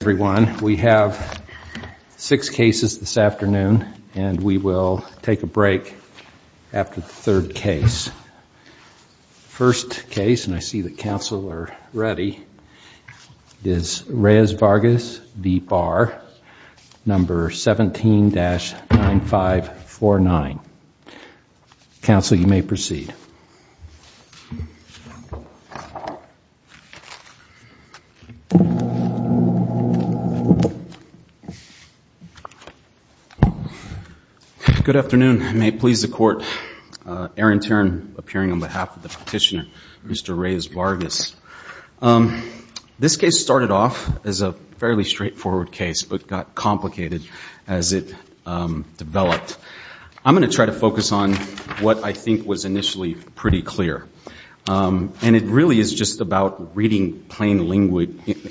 Everyone, we have six cases this afternoon, and we will take a break after the third case. First case, and I see the council are ready, is Reyes-Vargas v. Barr, number 17-9549. Counsel, you may proceed. Good afternoon. May it please the Court. Aaron Tern, appearing on behalf of the petitioner, Mr. Reyes-Vargas. This case started off as a fairly straightforward case, but got complicated as it developed. I'm going to try to focus on what I think was initially pretty clear. And it really is just about reading plain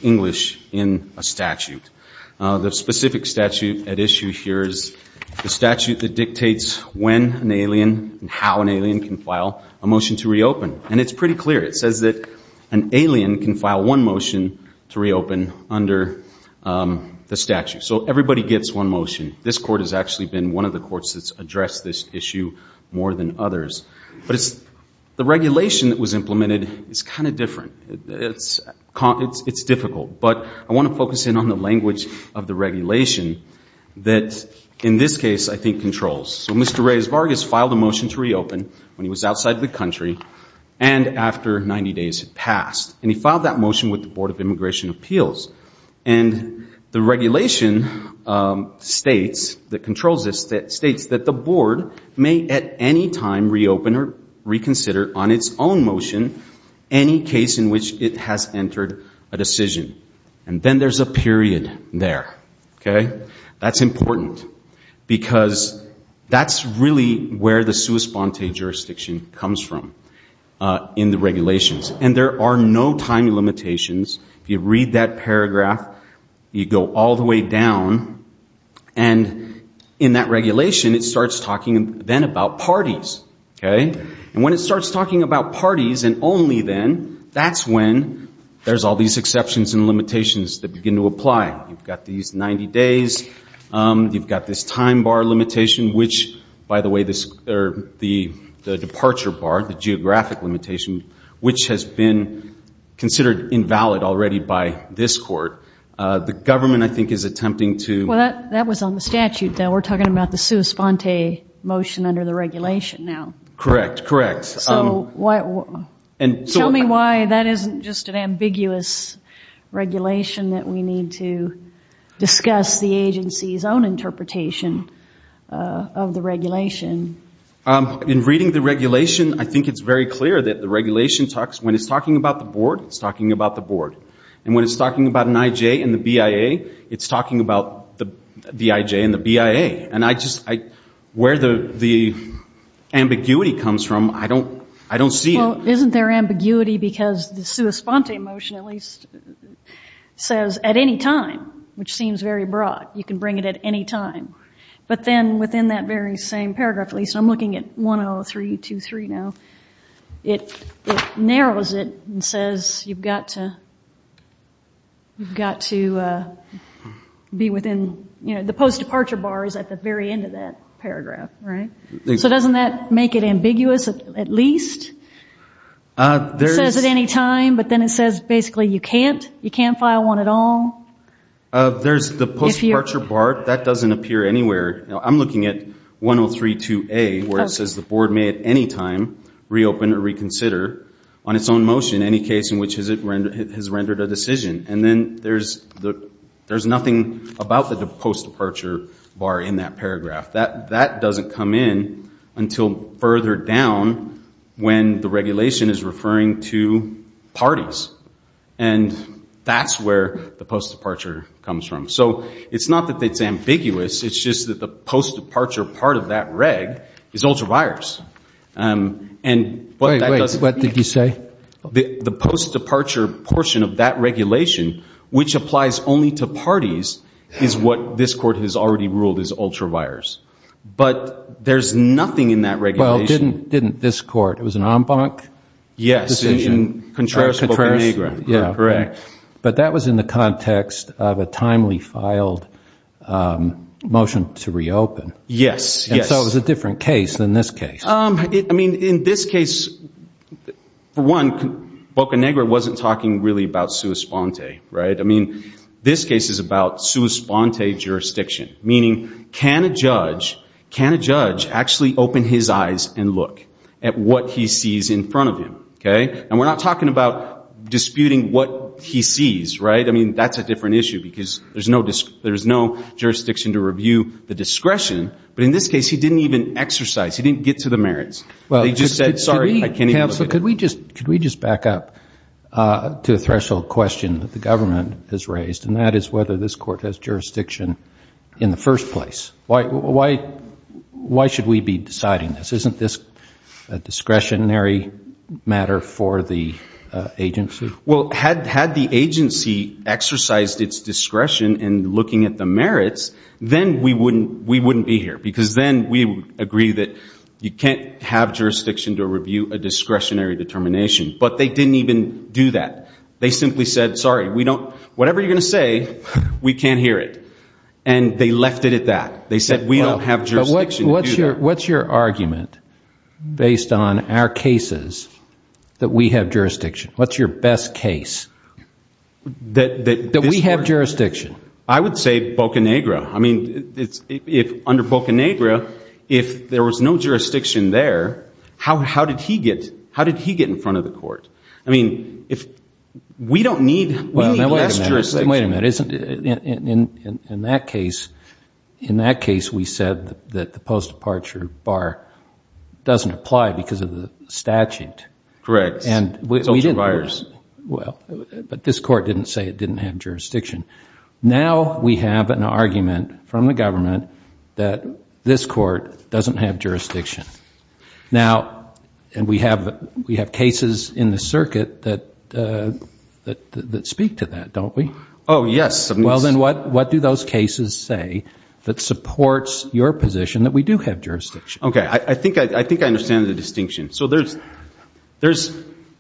English in a statute. The specific statute at issue here is the statute that dictates when an alien and how an alien can file a motion to reopen. And it's pretty clear. It says that an alien can file one motion to reopen under the statute. So everybody gets one motion. This Court has actually been one of the courts that's addressed this issue more than others. But the regulation that was implemented is kind of different. It's difficult. But I want to focus in on the language of the regulation that in this case I think controls. So Mr. Reyes-Vargas filed a motion to reopen when he was outside the country and after 90 days had passed. And he filed that motion with the Board of Immigration Appeals. And the regulation states that the Board may at any time reopen or reconsider on its own motion any case in which it has entered a decision. And then there's a period there. That's important. Because that's really where the sua sponte jurisdiction comes from in the regulations. And there are no time limitations. If you read that paragraph, you go all the way down. And in that regulation, it starts talking then about parties. And when it starts talking about parties and only then, that's when there's all these exceptions and limitations that begin to apply. You've got these 90 days. You've got this time bar limitation, which, by the way, the departure bar, the geographic limitation, which has been considered invalid already by this court. The government, I think, is attempting to- Well, that was on the statute, though. We're talking about the sua sponte motion under the regulation now. Correct. Correct. Tell me why that isn't just an ambiguous regulation that we need to discuss the agency's own interpretation of the regulation. In reading the regulation, I think it's very clear that the regulation talks- when it's talking about the board, it's talking about the board. And when it's talking about an IJ and the BIA, it's talking about the IJ and the BIA. Where the ambiguity comes from, I don't see it. Well, isn't there ambiguity because the sua sponte motion at least says at any time, which seems very broad, you can bring it at any time. But then within that very same paragraph, at least I'm looking at 103.23 now, it narrows it and says you've got to be within- at the very end of that paragraph, right? So doesn't that make it ambiguous at least? It says at any time, but then it says basically you can't. You can't file one at all. There's the post-departure bar. That doesn't appear anywhere. I'm looking at 103.2a where it says the board may at any time reopen or reconsider on its own motion any case in which it has rendered a decision. And then there's nothing about the post-departure bar in that paragraph. That doesn't come in until further down when the regulation is referring to parties. And that's where the post-departure comes from. So it's not that it's ambiguous. It's just that the post-departure part of that reg is ultraviolence. Wait, wait. What did you say? The post-departure portion of that regulation, which applies only to parties, is what this court has already ruled is ultraviolence. But there's nothing in that regulation. Well, didn't this court? It was an en banc decision? Yes, in Contreras-Pocahontas. But that was in the context of a timely filed motion to reopen. Yes, yes. I thought it was a different case than this case. I mean, in this case, for one, Boca Negra wasn't talking really about sua sponte, right? I mean, this case is about sua sponte jurisdiction, meaning can a judge actually open his eyes and look at what he sees in front of him? And we're not talking about disputing what he sees, right? I mean, that's a different issue because there's no jurisdiction to review the discretion. But in this case, he didn't even exercise. He didn't get to the merits. He just said, sorry, I can't even look at it. Counsel, could we just back up to a threshold question that the government has raised, and that is whether this court has jurisdiction in the first place. Why should we be deciding this? Isn't this a discretionary matter for the agency? Well, had the agency exercised its discretion in looking at the merits, then we wouldn't be here because then we would agree that you can't have jurisdiction to review a discretionary determination. But they didn't even do that. They simply said, sorry, whatever you're going to say, we can't hear it. And they left it at that. They said we don't have jurisdiction to do that. What's your argument based on our cases that we have jurisdiction? What's your best case that we have jurisdiction? I would say Bocanegra. I mean, under Bocanegra, if there was no jurisdiction there, how did he get in front of the court? I mean, we don't need less jurisdiction. Wait a minute. In that case, we said that the post-departure bar doesn't apply because of the statute. Correct. But this court didn't say it didn't have jurisdiction. Now we have an argument from the government that this court doesn't have jurisdiction. Now, and we have cases in the circuit that speak to that, don't we? Oh, yes. Well, then what do those cases say that supports your position that we do have jurisdiction? Okay. I think I understand the distinction. So there's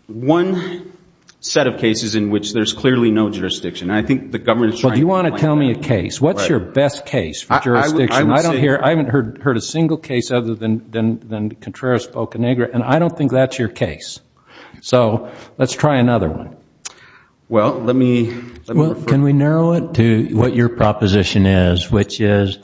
one set of cases in which there's clearly no jurisdiction. I think the government is trying to find that. Well, do you want to tell me a case? What's your best case for jurisdiction? I haven't heard a single case other than Contreras-Bocanegra, and I don't think that's your case. So let's try another one. Well, let me refer— Can we narrow it to what your proposition is, which is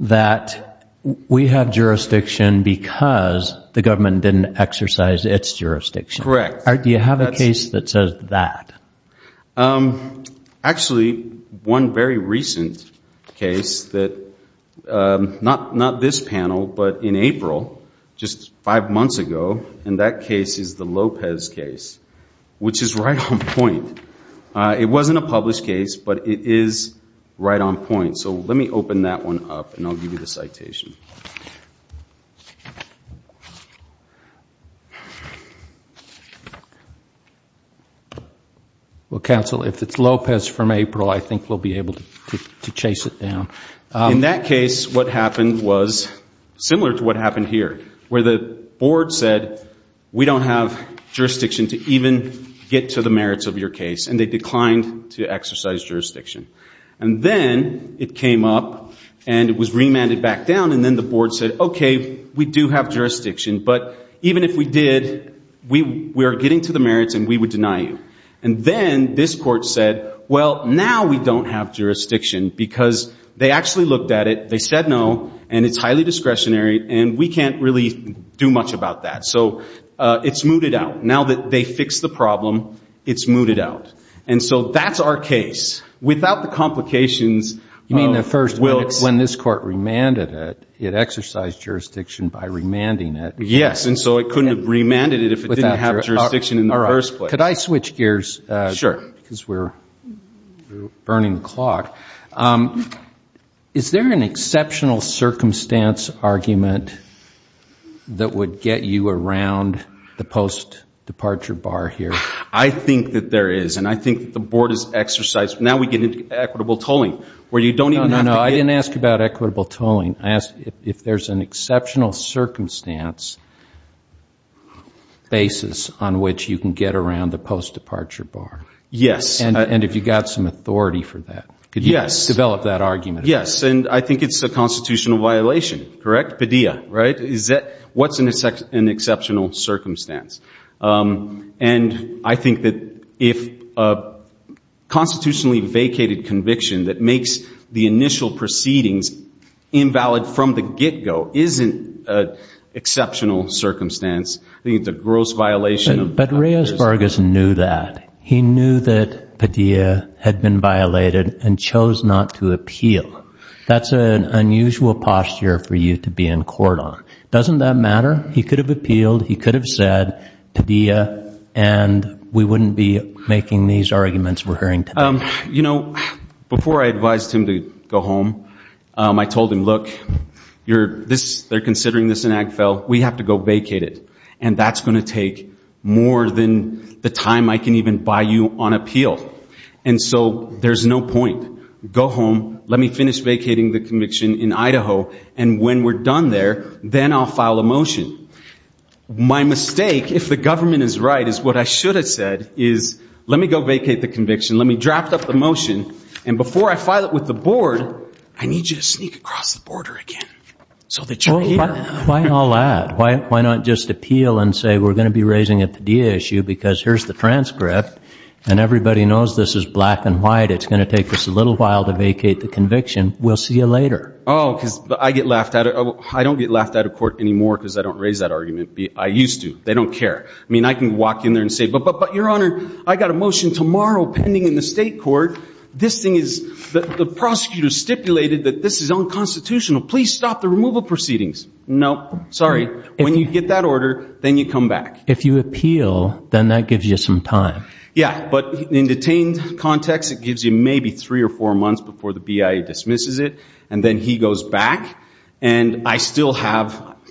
that we have jurisdiction because the government didn't exercise its jurisdiction? Correct. Do you have a case that says that? Actually, one very recent case that—not this panel, but in April, just five months ago, and that case is the Lopez case, which is right on point. It wasn't a published case, but it is right on point. So let me open that one up, and I'll give you the citation. Well, counsel, if it's Lopez from April, I think we'll be able to chase it down. In that case, what happened was similar to what happened here, where the board said, we don't have jurisdiction to even get to the merits of your case, and they declined to exercise jurisdiction. And then it came up, and it was remanded back down, and then the board said, okay, we do have jurisdiction, but even if we did, we are getting to the merits, and we would deny you. And then this court said, well, now we don't have jurisdiction because they actually looked at it, they said no, and it's highly discretionary, and we can't really do much about that. So it's mooted out. Now that they fixed the problem, it's mooted out. And so that's our case. Without the complications— You mean the first—when this court remanded it, it exercised jurisdiction by remanding it. Yes, and so it couldn't have remanded it if it didn't have jurisdiction in the first place. Could I switch gears? Sure. Because we're burning the clock. Is there an exceptional circumstance argument that would get you around the post-departure bar here? I think that there is, and I think that the board has exercised. Now we get into equitable tolling, where you don't even have to get— No, no, I didn't ask about equitable tolling. I asked if there's an exceptional circumstance basis on which you can get around the post-departure bar. Yes. And have you got some authority for that? Yes. Could you develop that argument? Yes, and I think it's a constitutional violation, correct? Padilla, right? What's an exceptional circumstance? And I think that if a constitutionally vacated conviction that makes the initial proceedings invalid from the get-go isn't an exceptional circumstance, I think it's a gross violation of— But Reyes Vargas knew that. He knew that Padilla had been violated and chose not to appeal. That's an unusual posture for you to be in court on. Doesn't that matter? He could have appealed. He could have said, Padilla, and we wouldn't be making these arguments we're hearing today. You know, before I advised him to go home, I told him, look, they're considering this in Ag Fell. We have to go vacate it, and that's going to take more than the time I can even buy you on appeal. And so there's no point. Go home. Let me finish vacating the conviction in Idaho. And when we're done there, then I'll file a motion. My mistake, if the government is right, is what I should have said is let me go vacate the conviction. Let me draft up the motion. And before I file it with the board, I need you to sneak across the border again so that you're here. Why not just appeal and say we're going to be raising it at the DSU because here's the transcript, and everybody knows this is black and white. It's going to take us a little while to vacate the conviction. We'll see you later. Oh, because I get laughed at. I don't get laughed at in court anymore because I don't raise that argument. I used to. They don't care. I mean, I can walk in there and say, but, Your Honor, I got a motion tomorrow pending in the state court. This thing is the prosecutor stipulated that this is unconstitutional. Please stop the removal proceedings. No, sorry. When you get that order, then you come back. If you appeal, then that gives you some time. Yeah, but in detained context, it gives you maybe three or four months before the BIA dismisses it, and then he goes back, and I still haven't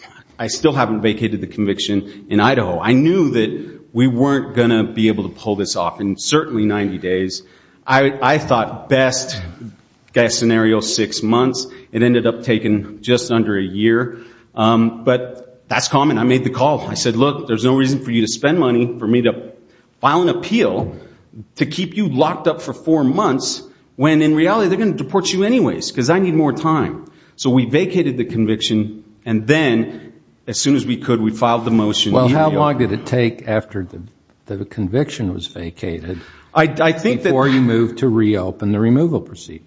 vacated the conviction in Idaho. I knew that we weren't going to be able to pull this off in certainly 90 days. I thought best-guess scenario, six months. It ended up taking just under a year, but that's common. I made the call. I said, Look, there's no reason for you to spend money for me to file an appeal to keep you locked up for four months when in reality they're going to deport you anyways because I need more time. So we vacated the conviction, and then as soon as we could, we filed the motion. Well, how long did it take after the conviction was vacated before you moved to reopen the removal proceedings?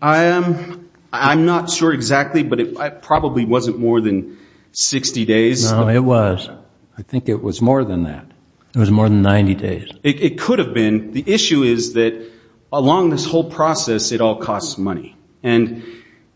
I'm not sure exactly, but it probably wasn't more than 60 days. No, it was. I think it was more than that. It was more than 90 days. It could have been. The issue is that along this whole process, it all costs money.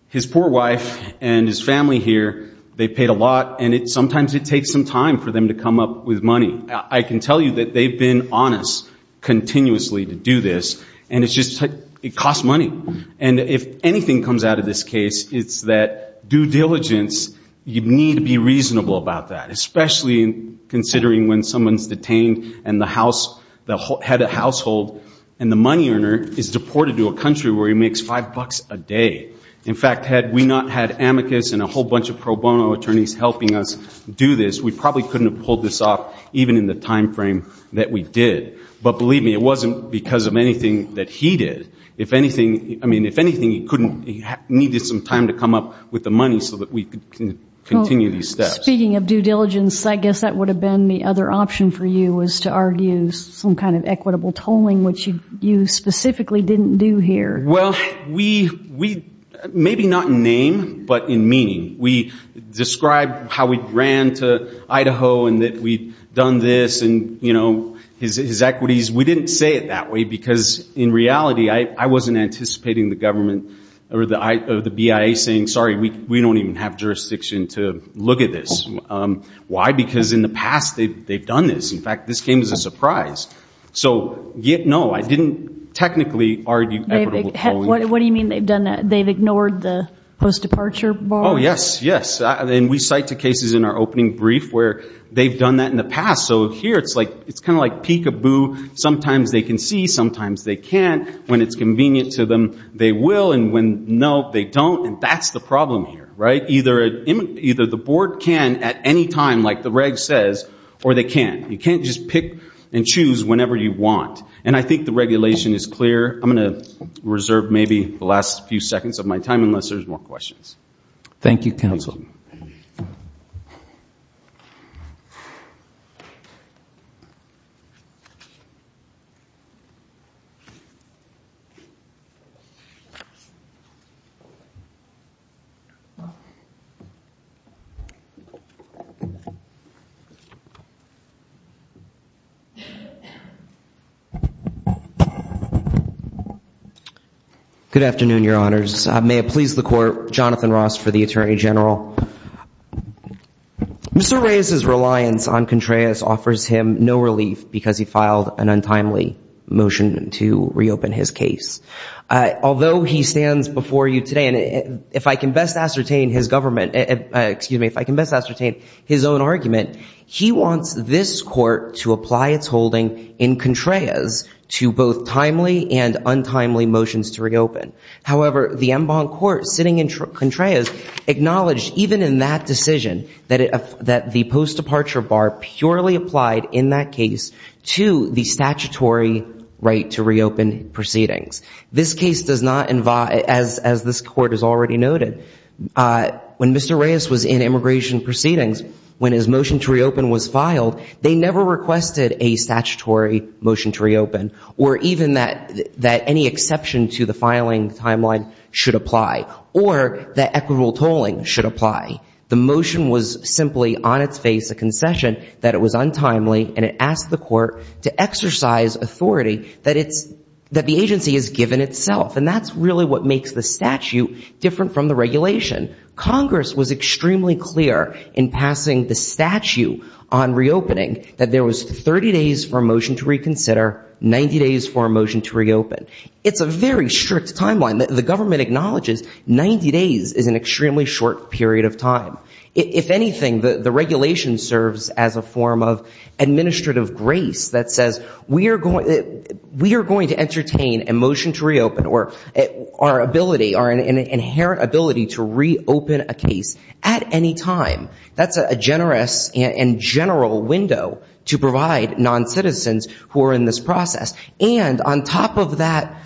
His poor wife and his family here, they paid a lot, and sometimes it takes some time for them to come up with money. I can tell you that they've been honest continuously to do this, and it costs money. If anything comes out of this case, it's that due diligence, you need to be reasonable about that, especially considering when someone's detained and the head of household and the money earner is deported to a country where he makes $5 a day. In fact, had we not had amicus and a whole bunch of pro bono attorneys helping us do this, we probably couldn't have pulled this off even in the time frame that we did. But believe me, it wasn't because of anything that he did. If anything, he needed some time to come up with the money so that we could continue these steps. Speaking of due diligence, I guess that would have been the other option for you, was to argue some kind of equitable tolling, which you specifically didn't do here. Well, maybe not in name but in meaning. We described how we ran to Idaho and that we'd done this and, you know, his equities. We didn't say it that way because, in reality, I wasn't anticipating the government or the BIA saying, sorry, we don't even have jurisdiction to look at this. Why? Because in the past they've done this. In fact, this came as a surprise. So, no, I didn't technically argue equitable tolling. What do you mean they've done that? They've ignored the post-departure bar? Oh, yes, yes. And we cite the cases in our opening brief where they've done that in the past. So here it's kind of like peekaboo. Sometimes they can see, sometimes they can't. When it's convenient to them, they will. And when, no, they don't, and that's the problem here, right? Either the board can at any time, like the reg says, or they can't. You can't just pick and choose whenever you want. And I think the regulation is clear. I'm going to reserve maybe the last few seconds of my time unless there's more questions. Thank you, counsel. Good afternoon, Your Honors. May it please the Court, Jonathan Ross for the Attorney General. Mr. Reyes's reliance on Contreras offers him no relief because he filed an untimely motion to reopen his case. Although he stands before you today, and if I can best ascertain his government, excuse me, if I can best ascertain his own argument, he wants this Court to apply its holding in Contreras to both timely and untimely motions to reopen. However, the en banc court sitting in Contreras acknowledged even in that decision that the post-departure bar purely applied in that case to the statutory right to reopen proceedings. This case does not, as this Court has already noted, when Mr. Reyes was in immigration proceedings, when his motion to reopen was filed, they never requested a statutory motion to reopen or even that any exception to the filing timeline should apply or that equitable tolling should apply. The motion was simply on its face a concession that it was untimely, and it asked the Court to exercise authority that the agency has given itself, and that's really what makes the statute different from the regulation. Congress was extremely clear in passing the statute on reopening that there was 30 days for a motion to reconsider, 90 days for a motion to reopen. It's a very strict timeline. The government acknowledges 90 days is an extremely short period of time. If anything, the regulation serves as a form of administrative grace that says, we are going to entertain a motion to reopen or our ability, our inherent ability to reopen a case at any time. That's a generous and general window to provide non-citizens who are in this process. And on top of that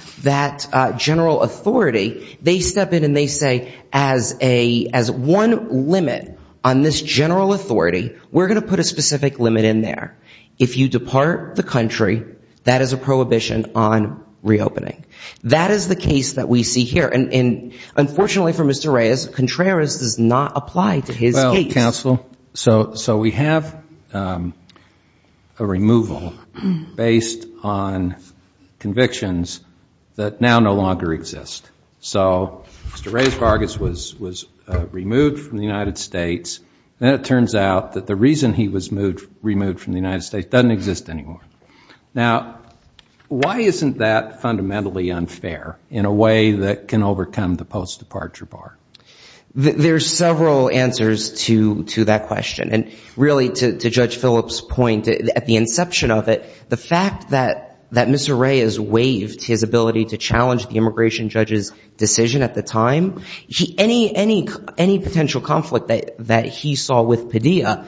general authority, they step in and they say, as one limit on this general authority, we're going to put a specific limit in there. If you depart the country, that is a prohibition on reopening. That is the case that we see here, and unfortunately for Mr. Reyes, Contreras does not apply to his case. Well, counsel, so we have a removal based on convictions that now no longer exist. So Mr. Reyes Vargas was removed from the United States, and it turns out that the reason he was removed from the United States doesn't exist anymore. Now, why isn't that fundamentally unfair in a way that can overcome the post-departure bar? There's several answers to that question, and really to Judge Phillips' point at the inception of it, the fact that Mr. Reyes waived his ability to challenge the immigration judge's decision at the time, any potential conflict that he saw with Padilla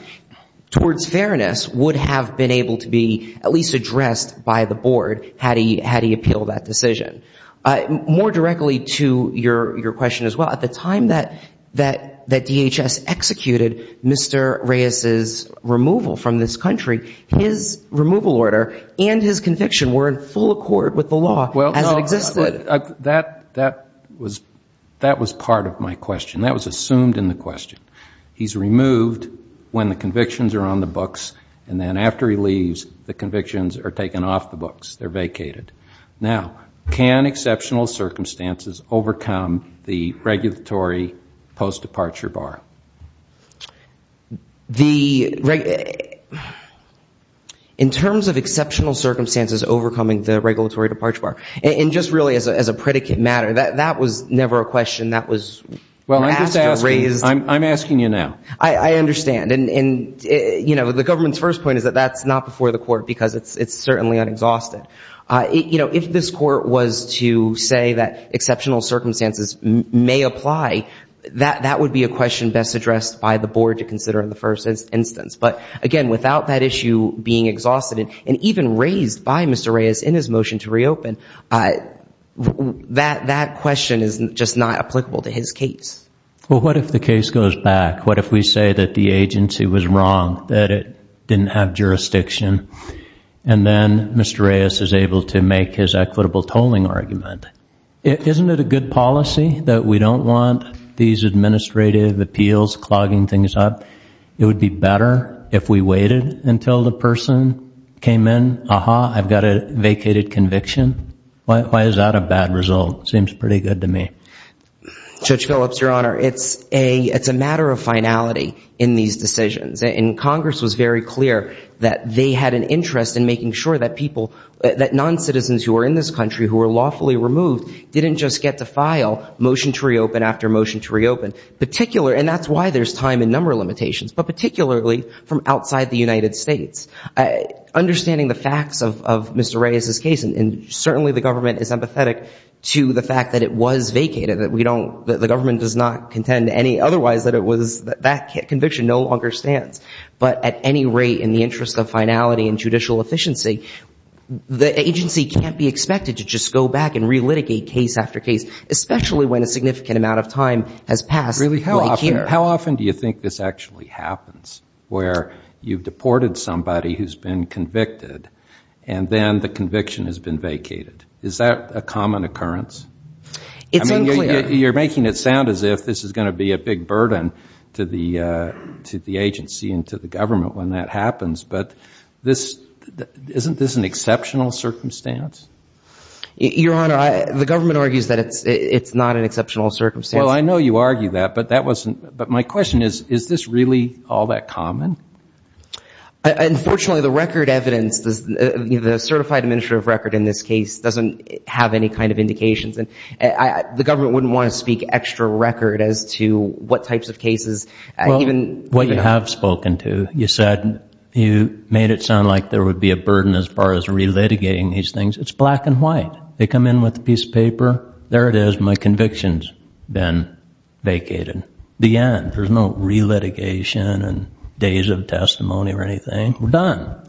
towards fairness would have been able to be at least addressed by the board had he appealed that decision. More directly to your question as well, at the time that DHS executed Mr. Reyes' removal from this country, his removal order and his conviction were in full accord with the law as it existed. That was part of my question. That was assumed in the question. He's removed when the convictions are on the books, and then after he leaves, the convictions are taken off the books. They're vacated. Now, can exceptional circumstances overcome the regulatory post-departure bar? In terms of exceptional circumstances overcoming the regulatory departure bar, and just really as a predicate matter, that was never a question that was asked or raised. Well, I'm asking you now. I understand. And, you know, the government's first point is that that's not before the court because it's certainly unexhausted. You know, if this court was to say that exceptional circumstances may apply, that would be a question best addressed by the board to consider in the first instance. But, again, without that issue being exhausted and even raised by Mr. Reyes in his motion to reopen, that question is just not applicable to his case. Well, what if the case goes back? What if we say that the agency was wrong, that it didn't have jurisdiction, and then Mr. Reyes is able to make his equitable tolling argument? Isn't it a good policy that we don't want these administrative appeals clogging things up? It would be better if we waited until the person came in. Aha, I've got a vacated conviction. Why is that a bad result? It seems pretty good to me. Judge Phillips, Your Honor, it's a matter of finality in these decisions. And Congress was very clear that they had an interest in making sure that people, that non-citizens who were in this country who were lawfully removed, didn't just get to file motion to reopen after motion to reopen. And that's why there's time and number limitations, but particularly from outside the United States. Understanding the facts of Mr. Reyes's case, and certainly the government is empathetic to the fact that it was vacated, that the government does not contend otherwise that that conviction no longer stands. But at any rate, in the interest of finality and judicial efficiency, the agency can't be expected to just go back and re-litigate case after case, especially when a significant amount of time has passed. Really, how often do you think this actually happens, where you've deported somebody who's been convicted, and then the conviction has been vacated? Is that a common occurrence? It's unclear. You're making it sound as if this is going to be a big burden to the agency and to the government when that happens. But isn't this an exceptional circumstance? Your Honor, the government argues that it's not an exceptional circumstance. Well, I know you argue that, but my question is, is this really all that common? Unfortunately, the record evidence, the certified administrative record in this case, doesn't have any kind of indications. The government wouldn't want to speak extra record as to what types of cases. Well, what you have spoken to, you said you made it sound like there would be a burden as far as re-litigating these things. It's black and white. They come in with a piece of paper. There it is. My conviction's been vacated. The end. There's no re-litigation and days of testimony or anything. We're done.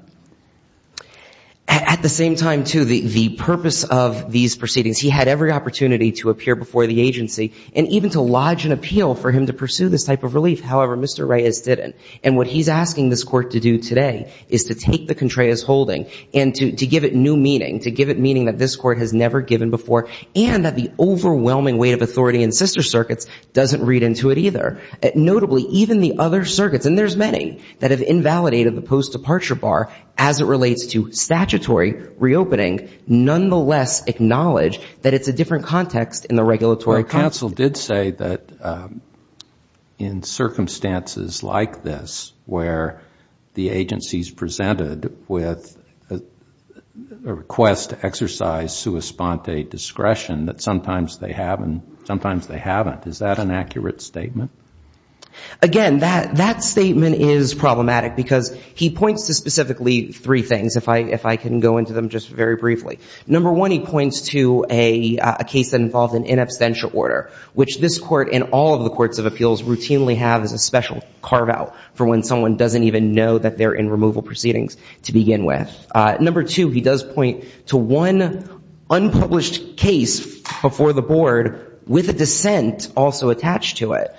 At the same time, too, the purpose of these proceedings, he had every opportunity to appear before the agency and even to lodge an appeal for him to pursue this type of relief. However, Mr. Reyes didn't. And what he's asking this Court to do today is to take the Contreras holding and to give it new meaning, to give it meaning that this Court has never given before and that the overwhelming weight of authority in sister circuits doesn't read into it either. Notably, even the other circuits, and there's many, that have invalidated the post-departure bar as it relates to statutory reopening, nonetheless acknowledge that it's a different context in the regulatory context. Counsel did say that in circumstances like this, where the agency's presented with a request to exercise sua sponte discretion, that sometimes they haven't. Is that an accurate statement? Again, that statement is problematic because he points to specifically three things. If I can go into them just very briefly. Number one, he points to a case that involved an inabstantial order, which this Court and all of the courts of appeals routinely have as a special carve-out for when someone doesn't even know that they're in removal proceedings to begin with. Number two, he does point to one unpublished case before the Board with a dissent also attached to it.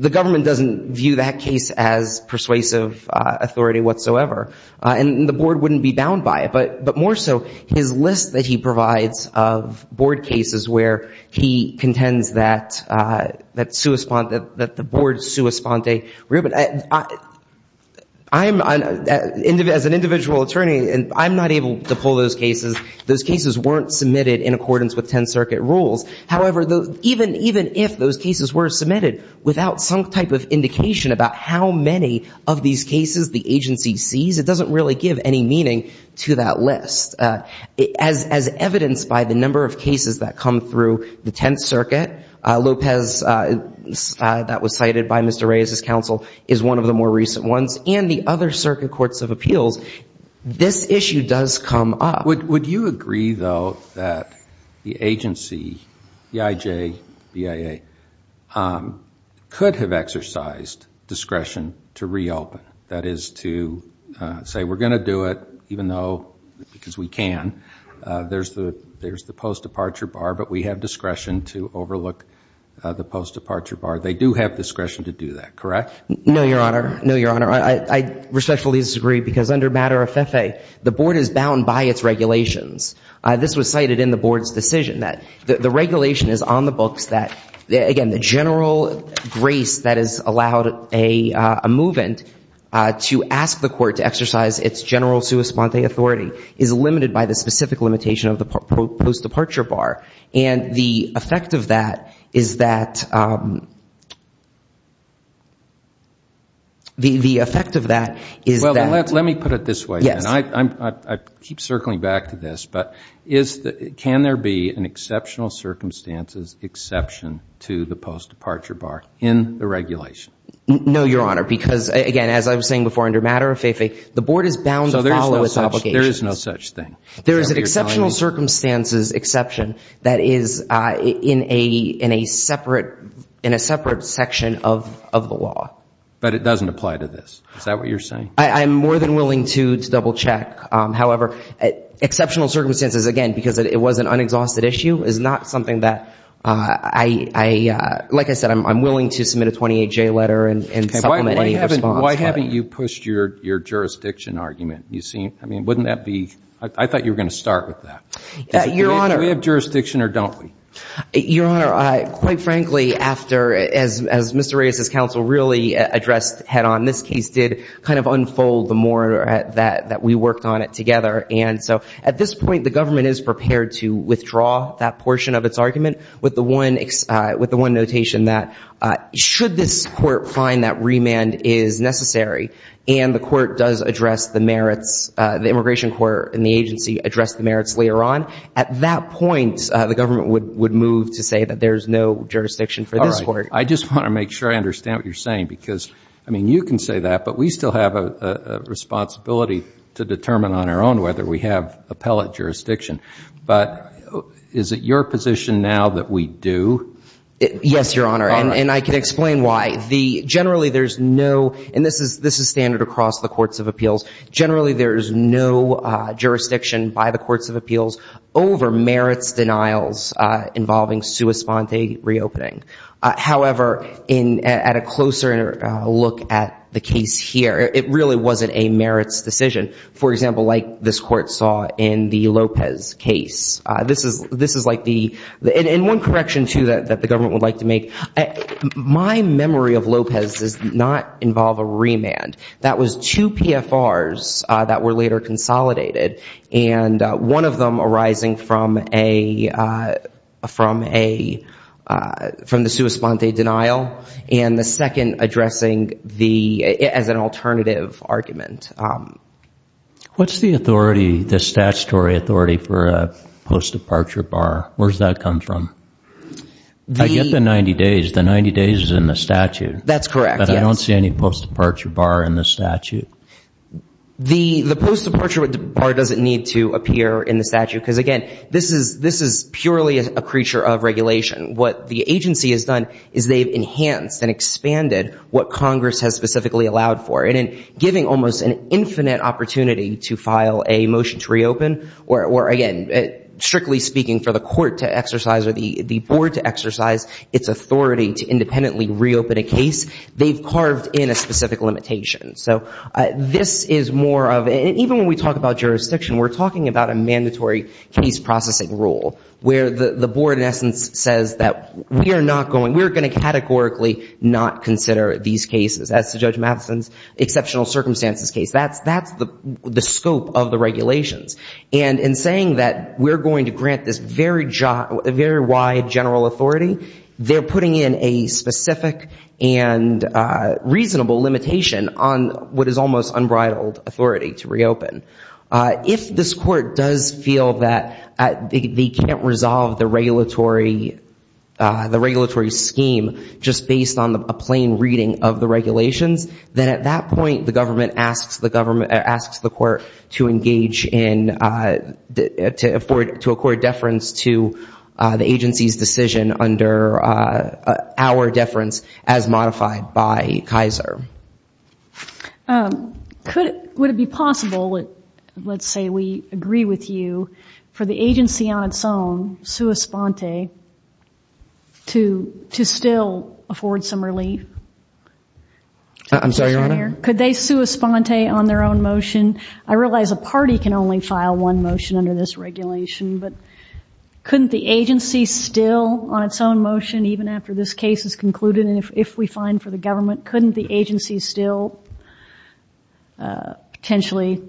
The government doesn't view that case as persuasive authority whatsoever, and the Board wouldn't be bound by it. But more so, his list that he provides of Board cases where he contends that the Board sua sponte. As an individual attorney, I'm not able to pull those cases. Those cases weren't submitted in accordance with 10th Circuit rules. However, even if those cases were submitted without some type of indication about how many of these cases the agency sees, it doesn't really give any meaning to that list. As evidenced by the number of cases that come through the 10th Circuit, Lopez that was cited by Mr. Reyes' counsel is one of the more recent ones, and the other circuit courts of appeals, this issue does come up. Would you agree, though, that the agency, EIJ, BIA, could have exercised discretion to reopen, that is to say, we're going to do it even though because we can. There's the post-departure bar, but we have discretion to overlook the post-departure bar. They do have discretion to do that, correct? No, Your Honor. No, Your Honor. I respectfully disagree because under matter of FEFE, the board is bound by its regulations. This was cited in the board's decision that the regulation is on the books that, again, the general grace that has allowed a move-in to ask the court to exercise its general sua sponte authority is limited by the specific limitation of the post-departure bar. And the effect of that is that the effect of that is that. Well, let me put it this way. Yes. I keep circling back to this, but can there be an exceptional circumstances exception to the post-departure bar in the regulation? No, Your Honor, because, again, as I was saying before, under matter of FEFE, the board is bound to follow its obligations. So there is no such thing. There is an exceptional circumstances exception that is in a separate section of the law. But it doesn't apply to this. Is that what you're saying? I'm more than willing to double-check. However, exceptional circumstances, again, because it was an unexhausted issue, is not something that I, like I said, I'm willing to submit a 28-J letter and supplement any response. Why haven't you pushed your jurisdiction argument? I thought you were going to start with that. Your Honor. Do we have jurisdiction or don't we? Your Honor, quite frankly, as Mr. Reyes' counsel really addressed head-on, this case did kind of unfold the more that we worked on it together. And so at this point, the government is prepared to withdraw that portion of its argument with the one notation that should this court find that remand is necessary and the court does address the merits, the immigration court and the agency address the merits later on. At that point, the government would move to say that there is no jurisdiction for this court. All right. I just want to make sure I understand what you're saying because, I mean, you can say that, but we still have a responsibility to determine on our own whether we have appellate jurisdiction. But is it your position now that we do? Yes, Your Honor. And I can explain why. Generally, there's no, and this is standard across the courts of appeals, generally there is no jurisdiction by the courts of appeals over merits denials involving sua sponte reopening. However, at a closer look at the case here, it really wasn't a merits decision. For example, like this court saw in the Lopez case. This is like the, and one correction, too, that the government would like to make. My memory of Lopez does not involve a remand. That was two PFRs that were later consolidated and one of them arising from a, from a, from the sua sponte denial and the second addressing the, as an alternative argument. What's the authority, the statutory authority for a post-departure bar? Where does that come from? I get the 90 days. The 90 days is in the statute. That's correct, yes. But I don't see any post-departure bar in the statute. The post-departure bar doesn't need to appear in the statute because, again, this is purely a creature of regulation. What the agency has done is they've enhanced and expanded what Congress has specifically allowed for it strictly speaking for the court to exercise or the board to exercise its authority to independently reopen a case. They've carved in a specific limitation. So this is more of, and even when we talk about jurisdiction, we're talking about a mandatory case processing rule, where the board, in essence, says that we are not going, we are going to categorically not consider these cases, as to Judge Mathison's exceptional circumstances case. That's the scope of the regulations. And in saying that we're going to grant this very wide general authority, they're putting in a specific and reasonable limitation on what is almost unbridled authority to reopen. If this court does feel that they can't resolve the regulatory scheme just based on a plain reading of the regulations, then at that point the government asks the court to engage in, to afford, to accord deference to the agency's decision under our deference as modified by Kaiser. Would it be possible, let's say we agree with you, for the agency on its own, sua sponte, to still afford some relief? I'm sorry, Your Honor? Could they sua sponte on their own motion? I realize a party can only file one motion under this regulation, but couldn't the agency still on its own motion even after this case is concluded, and if we find for the government, couldn't the agency still potentially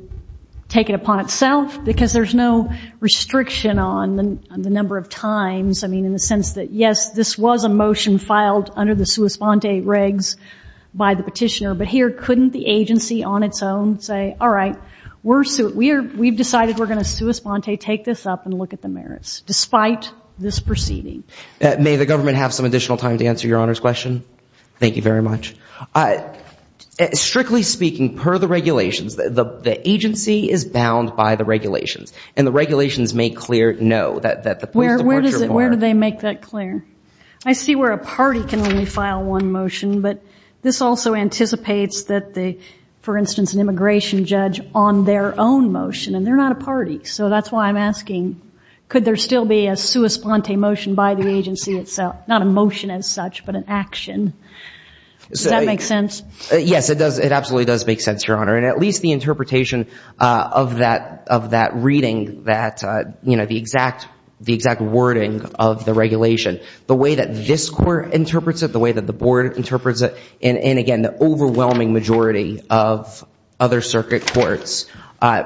take it upon itself? Because there's no restriction on the number of times. I mean, in the sense that, yes, this was a motion filed under the sua sponte regs by the petitioner, but here couldn't the agency on its own say, all right, we've decided we're going to sua sponte, take this up and look at the merits, despite this proceeding? May the government have some additional time to answer Your Honor's question? Thank you very much. Strictly speaking, per the regulations, the agency is bound by the regulations, and the regulations make clear, no, that the police departures were. Where do they make that clear? I see where a party can only file one motion, but this also anticipates that, for instance, an immigration judge on their own motion, and they're not a party, so that's why I'm asking, could there still be a sua sponte motion by the agency itself? Not a motion as such, but an action. Does that make sense? Yes, it absolutely does make sense, Your Honor, and at least the interpretation of that reading, the exact wording of the regulation, the way that this court interprets it, the way that the board interprets it, and, again, the overwhelming majority of other circuit courts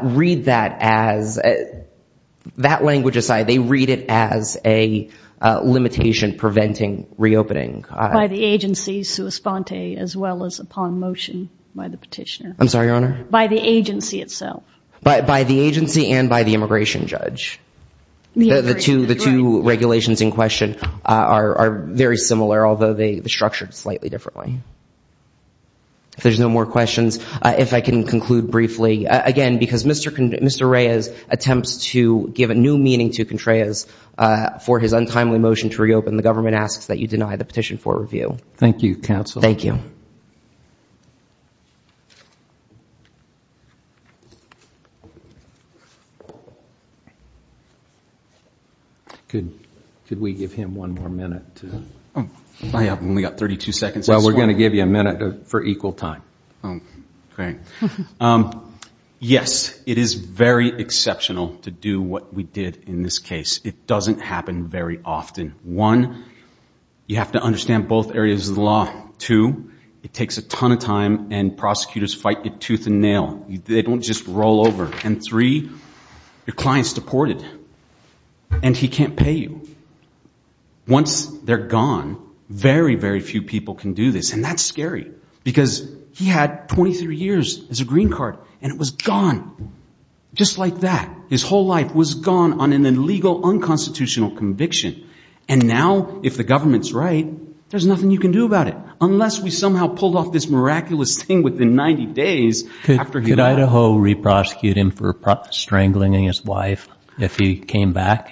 read that as, that language aside, they read it as a limitation preventing reopening. By the agency sua sponte as well as upon motion by the petitioner. I'm sorry, Your Honor? By the agency itself. By the agency and by the immigration judge. The two regulations in question are very similar, although they're structured slightly differently. If there's no more questions, if I can conclude briefly, again, because Mr. Reyes attempts to give a new meaning to Contreras for his untimely motion to reopen, the government asks that you deny the petition for review. Thank you, counsel. Thank you. Thank you. Could we give him one more minute? I have only got 32 seconds. Well, we're going to give you a minute for equal time. Okay. Yes, it is very exceptional to do what we did in this case. It doesn't happen very often. One, you have to understand both areas of the law. Two, it takes a ton of time, and prosecutors fight you tooth and nail. They don't just roll over. And three, your client's deported, and he can't pay you. Once they're gone, very, very few people can do this. And that's scary because he had 23 years as a green card, and it was gone just like that. His whole life was gone on an illegal unconstitutional conviction. And now, if the government's right, there's nothing you can do about it, unless we somehow pull off this miraculous thing within 90 days after he died. Could Idaho re-prosecute him for strangling his wife if he came back?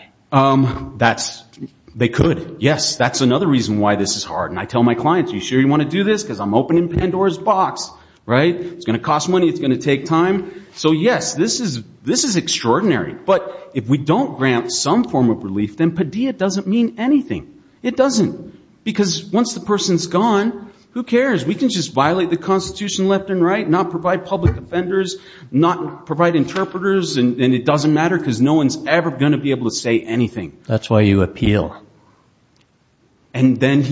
They could. Yes, that's another reason why this is hard. And I tell my clients, are you sure you want to do this? Because I'm opening Pandora's box, right? It's going to cost money. It's going to take time. So, yes, this is extraordinary. But if we don't grant some form of relief, then Padilla doesn't mean anything. It doesn't. Because once the person's gone, who cares? We can just violate the Constitution left and right, not provide public offenders, not provide interpreters, and it doesn't matter because no one's ever going to be able to say anything. That's why you appeal. And then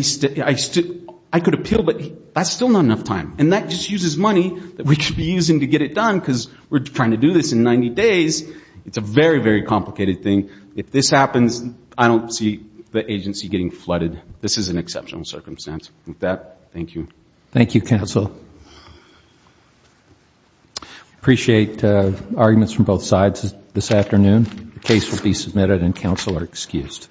I could appeal, but that's still not enough time. And that just uses money that we should be using to get it done because we're trying to do this in 90 days. It's a very, very complicated thing. If this happens, I don't see the agency getting flooded. This is an exceptional circumstance. With that, thank you. Thank you, counsel. Appreciate arguments from both sides this afternoon. The case will be submitted and counsel are excused.